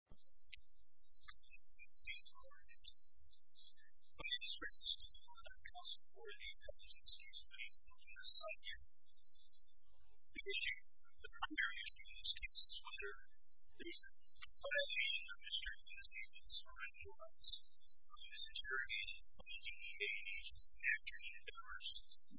I'm going to discuss this a little bit more about the counsel for the appellant in this case, which is Mr. Zapien. The issue, the primary issue in this case is whether there's a violation of Mr. Zapien's foreign warrants. Mr. Zapien, on the evening day, and he's in the afternoon hours,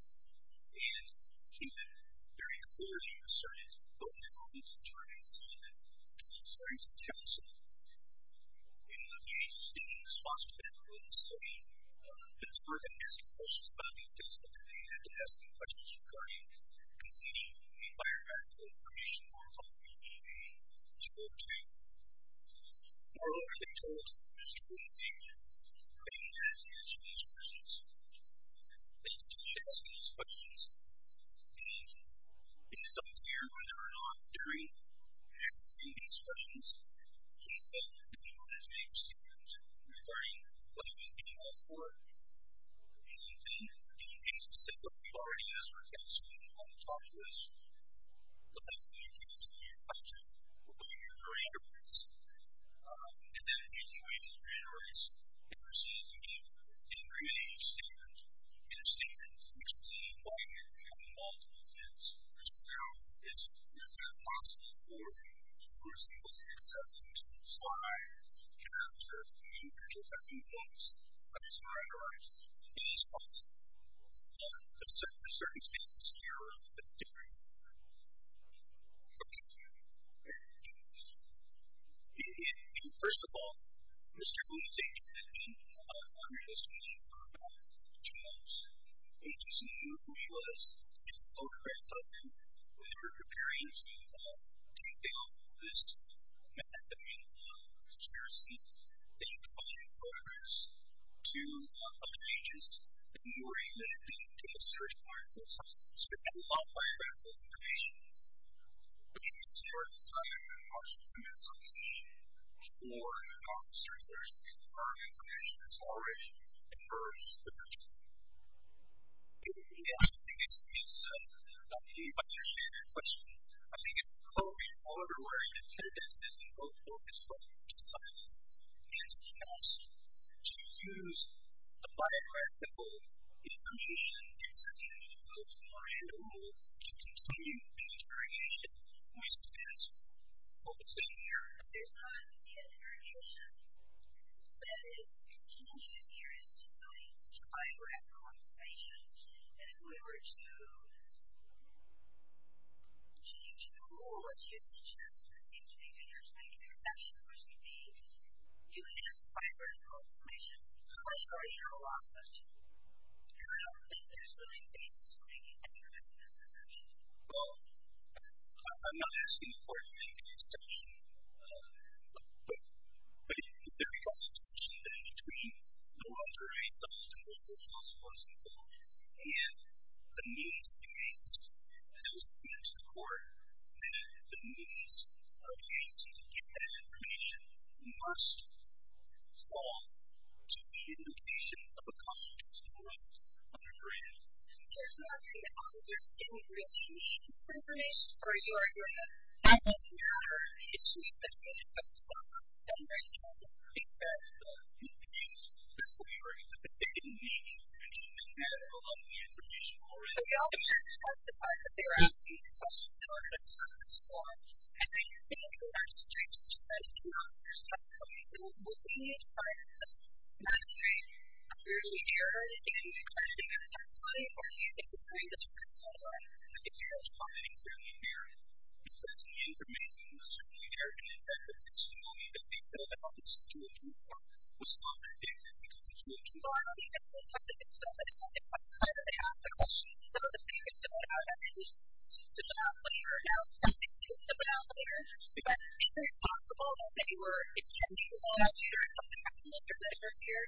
and he's been very encouraging, assertive, open about Mr. Zapien's involvement. In the case of the counsel, in the case of state responsibility in the city, the department asked questions about the case on the day they had to ask the questions regarding conceding the environmental information for a company in the U.S. in World War II. More than I've been told, Mr. Quincy, I didn't have the answer to these questions. They didn't ask me these questions, and it's unclear whether or not during asking these questions, he said that he wanted to make a statement regarding what he was doing that for. And in the case of SIPA, we've already asked our counsel to come out and talk to us, but I can't give you an answer to your question. We're going to hear from Andrew Rice, and then he's going to hear from Andrew Rice. We're going to see if he can create a statement, and a statement to explain why he had to be involved with this. Is there a possible origin? Was he able to accept these rules? Why? Can I observe the individual having those? I'm sorry, Andrew Rice. It is possible, but the circumstances here are a bit different. Okay. First of all, Mr. Quincy, I'm wondering as to what you thought about Charles' agency, who he was, and the photographs of him when they were preparing to take down this man that made a lot of conspiracy. Did you provide photographs to other agents that you were able to take to the search warrant so that you had a lot of biographical information? What do you consider the size of an offshore human subsidiary? Or are there circumstances where information has already emerged that are true? I think it's a complicated question. I think it's probably hard to work with evidence that isn't both focused on science and the past to use the biographical information in such a way to move somewhere in the world to continue the interrogation, which depends on what's been here. There's not an interrogation. That is, you're changing areas, you're going to biographical information, and if we were to change the rule, what you suggest, you're saying that you're making an exception, which would be using this biographical information. How much more do you know about this? And I don't think there's really a basis for making any kind of an exception. Well, I'm not asking the court to make an exception, but there is a constitution that in between the long-term result and the original source of the evidence and the means it used, and I was speaking to the court, that the means used to get that information must fall to the indication of a constitutional underground. There's not an understanding that you're changing the information for your argument. That doesn't matter. It's just that you have a problem that makes you think that you're confused. That's what you're saying, that they didn't need to continue to narrow down the information already. Well, I'm trying to justify that they're asking the question in order to cover the score. And then you're saying that you're not going to change the score. That's not what you're saying. You're saying, well, can you try to just not change? Are you really narrowing it down? Can you try to change the story? Or do you think you're doing this for the score? I think you're responding fairly narrowly. Because the information was certainly there, and the evidence testimony that they filled out was still too far. It was unpredictable, because the information was still there. Well, I don't think that's what they filled out. I don't have the question. So, the statements that went out, I'm just not sure how they filled them out there. But is it possible that they were intentionally allowed to share some of the documents or letters here?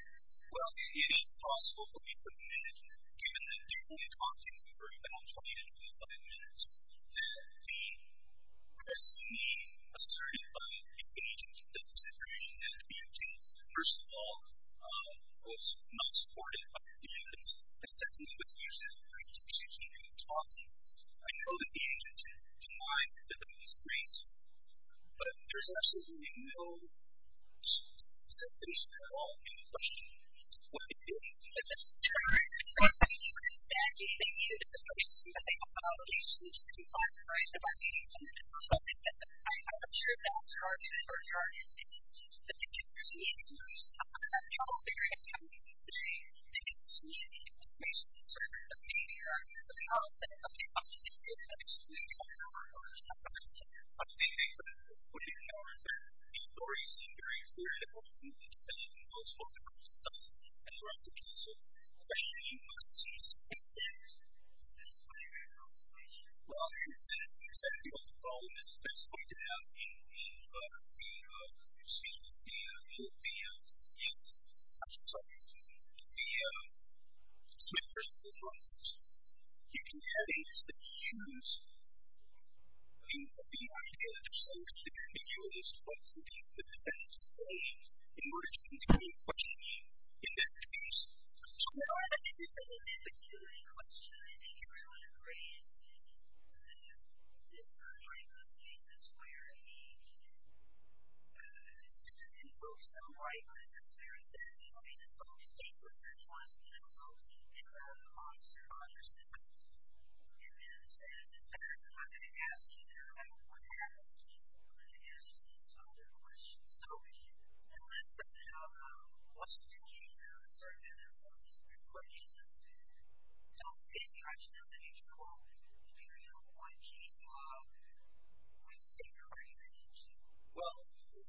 Well, it is possible. But we submitted, given that they only talked to me for about 20 to 25 minutes, that they were being asserted by the agent. The consideration that the agent, first of all, was not supportive of the evidence, and secondly, was used as an excuse to keep him from talking. I know that the agent denied that there was grace, but there was absolutely no cessation at all in questioning what it is. It's absurd. I mean, even if they knew that there was some kind of obligation to be authorized by the agency to do something like that, I'm sure that's hard to argue. I mean, the agent was being used as a provocateur. I mean, they didn't see any information. It's sort of a failure of the agency to do something like that. I think they were pushing forward. But the stories seem very clear. I don't see the defendant in those photographic sites and photographic cases questioning what seems to be the case. Well, I think that's exactly what the problem is. That's pointed out in the, excuse me, in the, I'm sorry, in the Smith version of the process. You can have agents that choose, you can have agents that choose to be ambiguous about what the defendant is saying in order to continue questioning in that case. No, I think it's a really good question. I think everyone agrees that this is one of those cases where he just didn't go so wide with it. So he says, you know, he's just totally stateless and he wants to consult with the officer on this case. And then he says, I'm not going to ask you that. I don't want to ask you that. I'm going to ask you some other questions. So if you had listed, you know, what seems to be the case in the circuit and some of these different court cases, don't you think there are some things where you don't want to change the law? What do you think there are even to change the law? Well,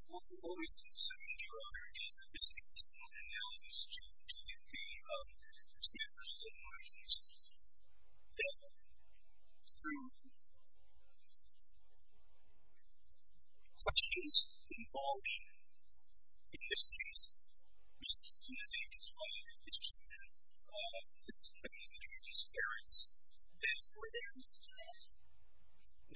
what we seem to see, Your Honor, is that there's an existence of analogies to the Smith version of the law. And that through questions involving existence, which in this case is one of the cases where the suspect is accused of scaring his parents,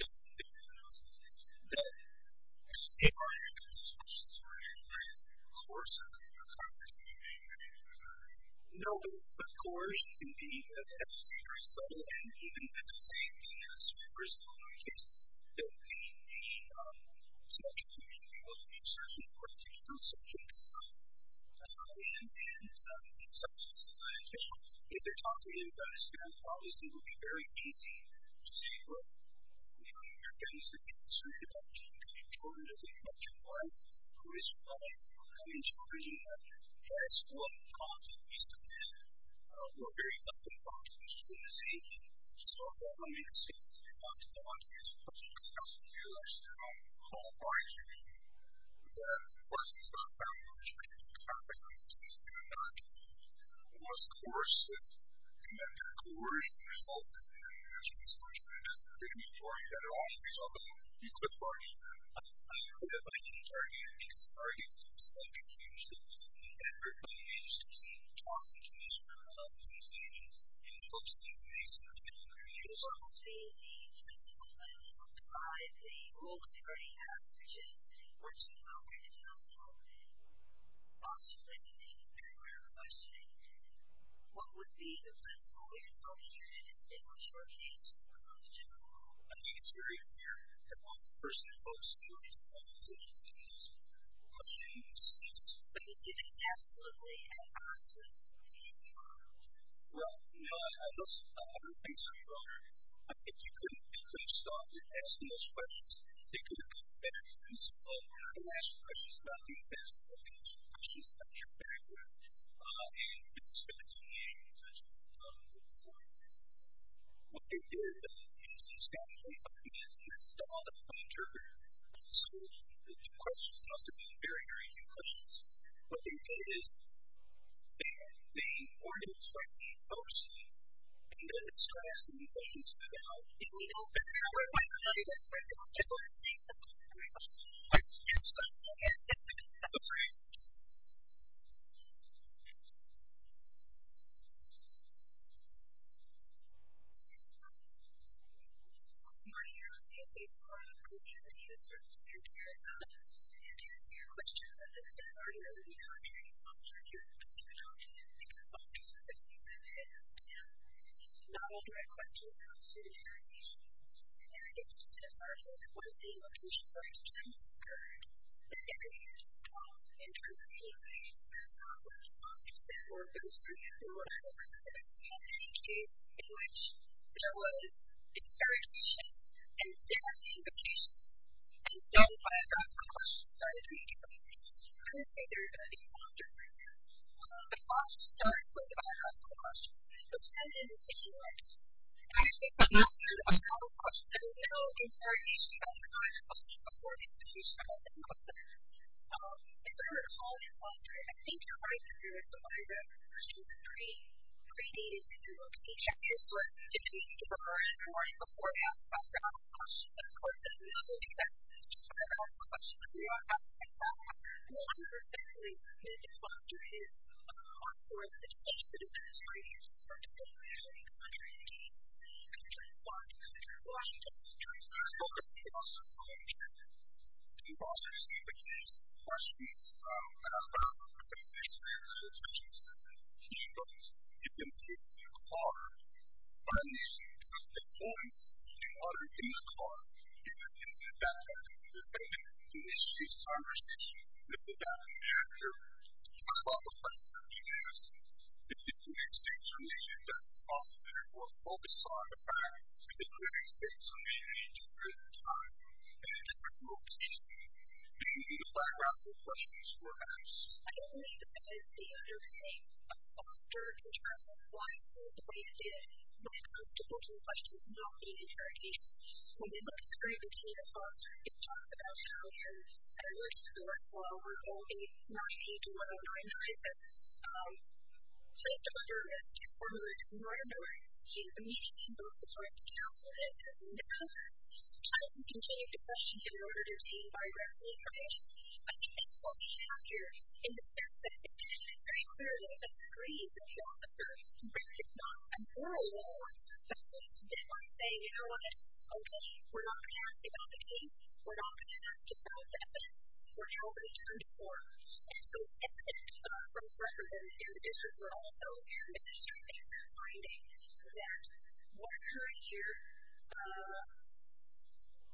that there are analogies to the Smith version of the law. That there are analogies to the Smith version of the law. Of course, there's a lot of controversy No, but coercion can be, as you say, very subtle and even, as you say, in the Smith version of the case, that the subject can be involved in. It's certainly important to keep in mind that the subject is a scientist. If they're talking about a scam, obviously it would be very easy to say, well, you know, you're a feminist and you're concerned about your children and you're concerned about your wife. Who is your wife? I mean, surely, that's what controversy is about. We're very often talking about conspiracy. And so I don't think it's a conspiracy to go onto these questions. I think there are some, I don't know how far you can go. But of course, there are a fair amount of specific cases in the case of the Smith version. And of course, you know, the coercion result in the Smith version is a pretty big story that it all depends on the people involved. I don't know that the entirety of the case would argue for some confusion. But I've heard many major statesmen talking to each other about these issues and folks being very supportive of their views. If I were to say the principle that I would apply to the rule of the burning hat, which is that you're too aware of yourself and possibly think you're aware of the question, what would be the principle that I would use in my short case to work on the general rule? I think it's very clear that once a person invokes the rule of the burning hat, it's a position to use. The question is, is it absolutely an absolute principle? Well, no. I don't think so, Your Honor. If you couldn't stop them asking those questions, they couldn't have come up with a better principle. The last question is not the best one. The first question is not there very well. And this is going to be a very important point. What they did in this example is install the pun interpreter and explain the question. It has to be very, very few questions. What they did is they ordered the person and then they started asking the question so that they could talk. And we don't have them. We might not even have them. We don't have them. We don't have them. We don't have them. We have someone who's using a pen, but we don't have a print. Yeah. Good morning, you're on Canadians mail. Good morning, this is she. It is to your question. The Citizen Talent Channel and the Consultations that we have here. Not all direct questions come to the interrogation. And it is necessary that once the interrogation for each case has occurred, that the interviewee is called and interrogated. That's not what the process is for. Those of you who are folks that have seen any case in which there was interrogation and there was the invocation and then I got the question started immediately. I don't say there's going to be an answer right now. The process starts with asking the question. So, who did you interrogate? And I think the answer to another question, there is no interrogation at the time of the interrogation that you said in question. In terms of calling and answering, I think you're right to do it the way that the question was created. Created is that you look at each action. So, if you need to refer in court beforehand after asking the question, then of course, if you don't need to do that, just try to ask the question. If you want to ask it like that, I think there's definitely a need to talk to his or his attorney to talk to the attorney to get the answer to the question. The question is, what was the process of interrogation? The process, which is questions about the person's real intentions. He knows it's in his car. And the points are in the car. Is it that the person initiates conversation? Is it that the interviewer asks a lot of questions of the interviewee? If the interviewee seems relieved, that's a possibility for a focus on the crime. If the interviewee seems to be in need of a bit of time and a different form of teaching, then the background questions were asked. I don't think as the interviewee, I'm concerned in terms of why the attorney did it. When it comes to pushing questions, no interrogation. When we look at the Great Virginia Clause, it talks about how a person who works for a law firm called a 981099 is placed under arrest if one were to murder them. He's immediately told his right to counsel and his right to defense. How do you continue to question him in order to obtain biographical information? I think that's what we have here in the sense that it's very clear that it's agrees with the officer, but it's not a moral law. So at least then I'm saying, you know what? Okay, we're not going to ask about the case. We're not going to ask about the evidence. We're now going to turn to court. And so, except for the president and the district, we're also administering things that are binding to that. What occurred here,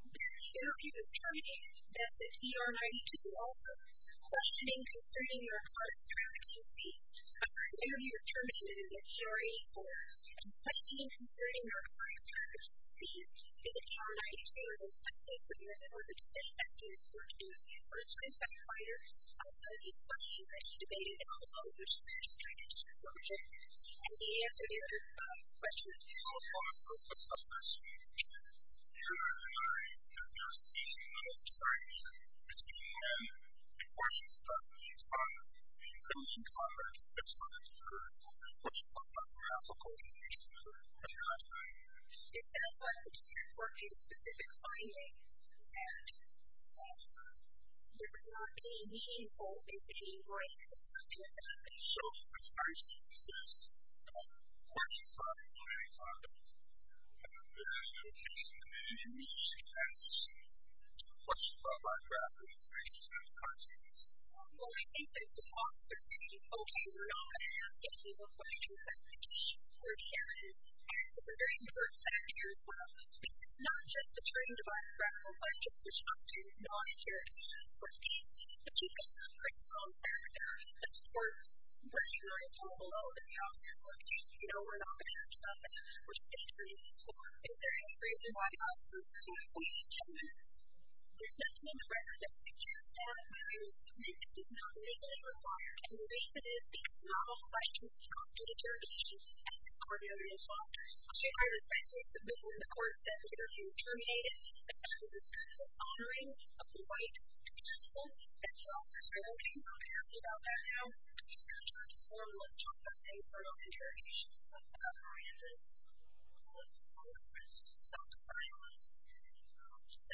the interviewee was terminated. That's an ER-92 also. Questioning concerning your part of the trafficking scene. An interviewee was terminated in an ER-84. And questioning concerning your part of the trafficking scene. Is it true that you were in some place where you were able to defend after your search was first identified? Are some of these questions that you debated in all of your speeches, kind of disproportionate? And the answer to your first five questions. Well, first of all, the purpose of this hearing is not to give you a seasonal insight. It's to give you a question, start with you, and then you can comment based on what you heard, what you thought about trafficking. It's not like this is a specific finding that there's not any need or there's any right to something that I can show you as far as this is a question for an interviewee, for example. It's an interviewee's right to a question about trafficking based on the context. Well, I think that the officer said, okay, we're not going to ask any more questions about the case or the evidence. And it's a very important factor as well because it's not just the training device for ethical questions, there's often non-interrogations for cases. But you get a pretty strong background that's sort of where you want to go below the house. Okay, you know, we're not going to talk about this. We're just going to do this. So is there any reason why officers can't wait to move? There's nothing in the record that's accused of maybe not legally required and the reason is because not all questions constitute interrogations as is ordinarily in law. I think I understand since it wasn't in the court that the interview was terminated, that was just kind of the honoring of the right to counsel. And the officers are like, okay, we're not going to ask you about that now. We're just going to try to form a list of things that are not interrogations. Miranda's on the list. Self-silence. That suggests that in fact there must be this break or some kind of break. I respect that, but as you know, the reason it's becoming a keynote is because not all of the right questions constitute interrogations. At this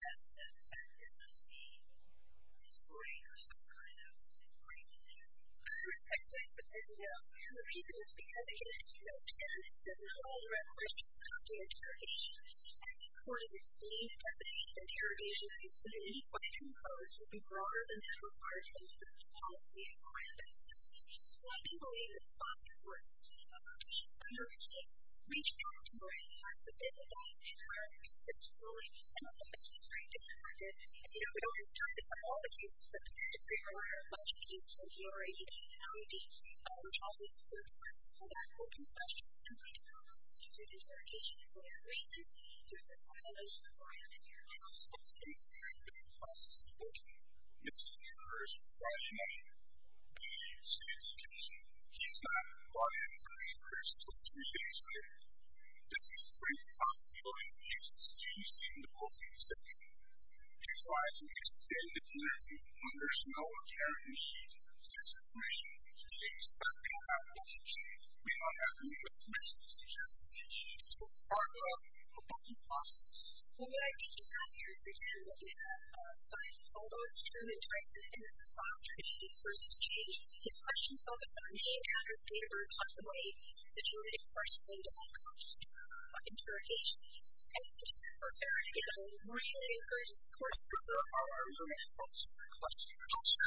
point, we've seen that the interrogations in some unique question codes would be broader than that required in certain policy environments. So I do believe that foster works. Number eight, reach out to Miranda so that they can try to consistently send a message to Miranda and, you know, we don't have time to cover all the cases, but if there are questions that you already have in your head, reach out to social media so that more questions can be asked. If the interrogation is what you're waiting for, there's a lot of information required to do that. I was also concerned about the process of working. This is the first Friday night that we use communication. She's not on the first person until three days later. This is a great possibility because it's easy to go through the session. She tries to extend the interview under some authoritarian means. There's a question that she is asking about what she should be doing. We don't have to make as many decisions as we need to. It's part of the working process. Well, what I can tell you is that we have scientists all over the world doing interviews on traditional versus change. His questions focus on the way the interrogation is prepared. It's a really important question for all our human folks. The question also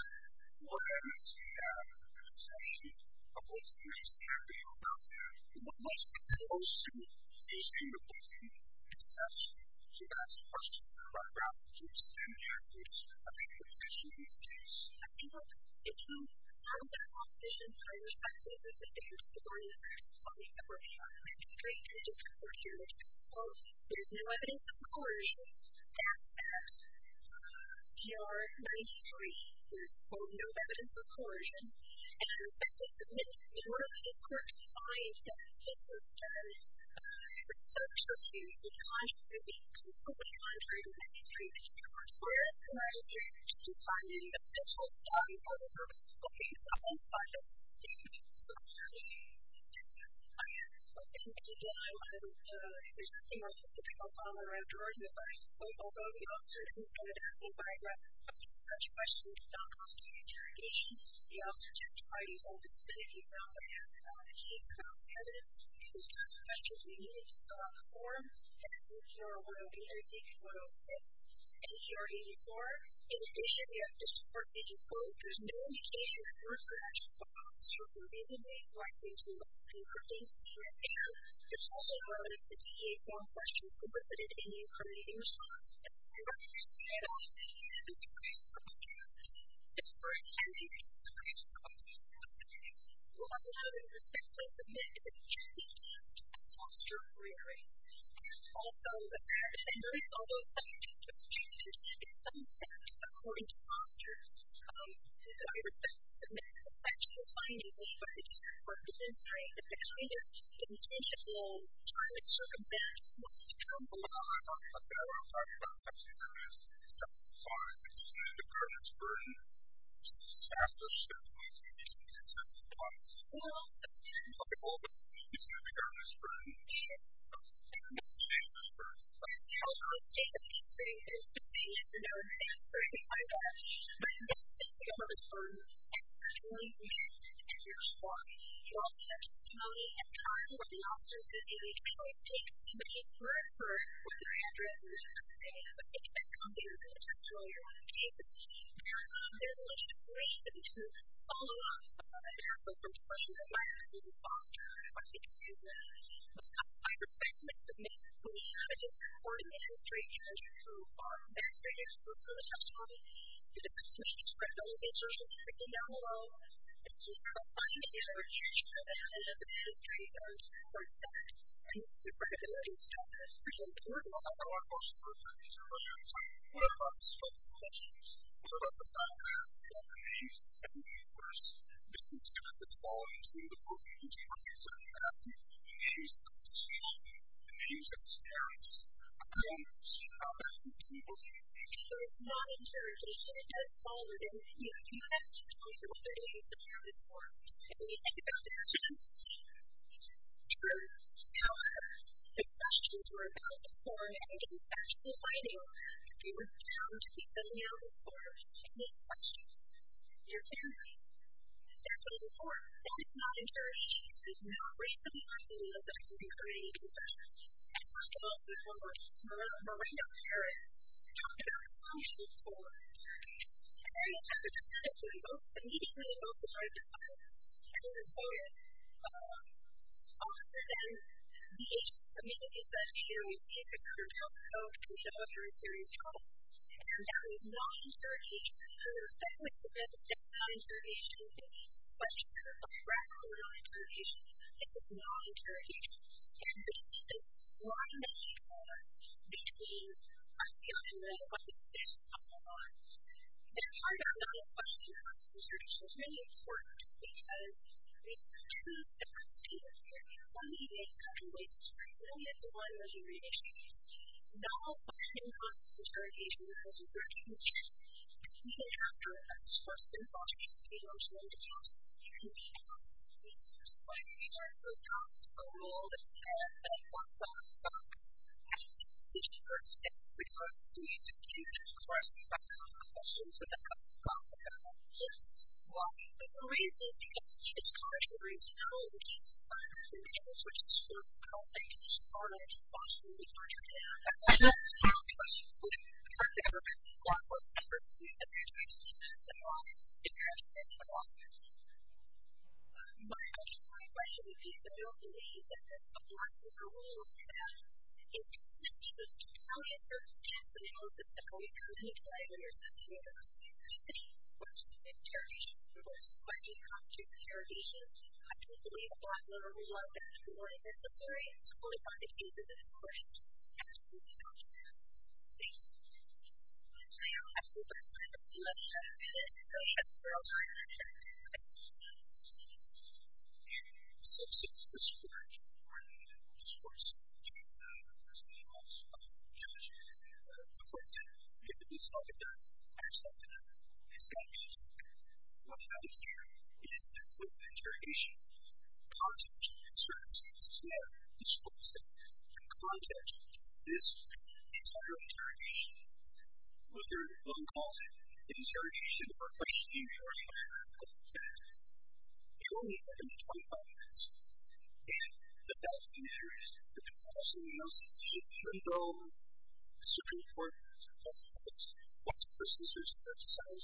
was about the perception of what is happening around them. What was the notion of facing opposing perception? She asked questions about that. I think the question is this. I think if you don't have evidence of coercion, that's that. You are 93. There's no evidence of coercion. In order for this court to find that this was done for social issues, it would be completely contrary to 93. I if you don't have evidence contrary to 93. I think if you don't have evidence of coercion, it would be completely contrary to 93. I completely contrary to 93. I think if you don't have evidence of coercion, it would be completely contrary would be completely contrary to 93. I think if you don't have evidence of coercion, it would be completely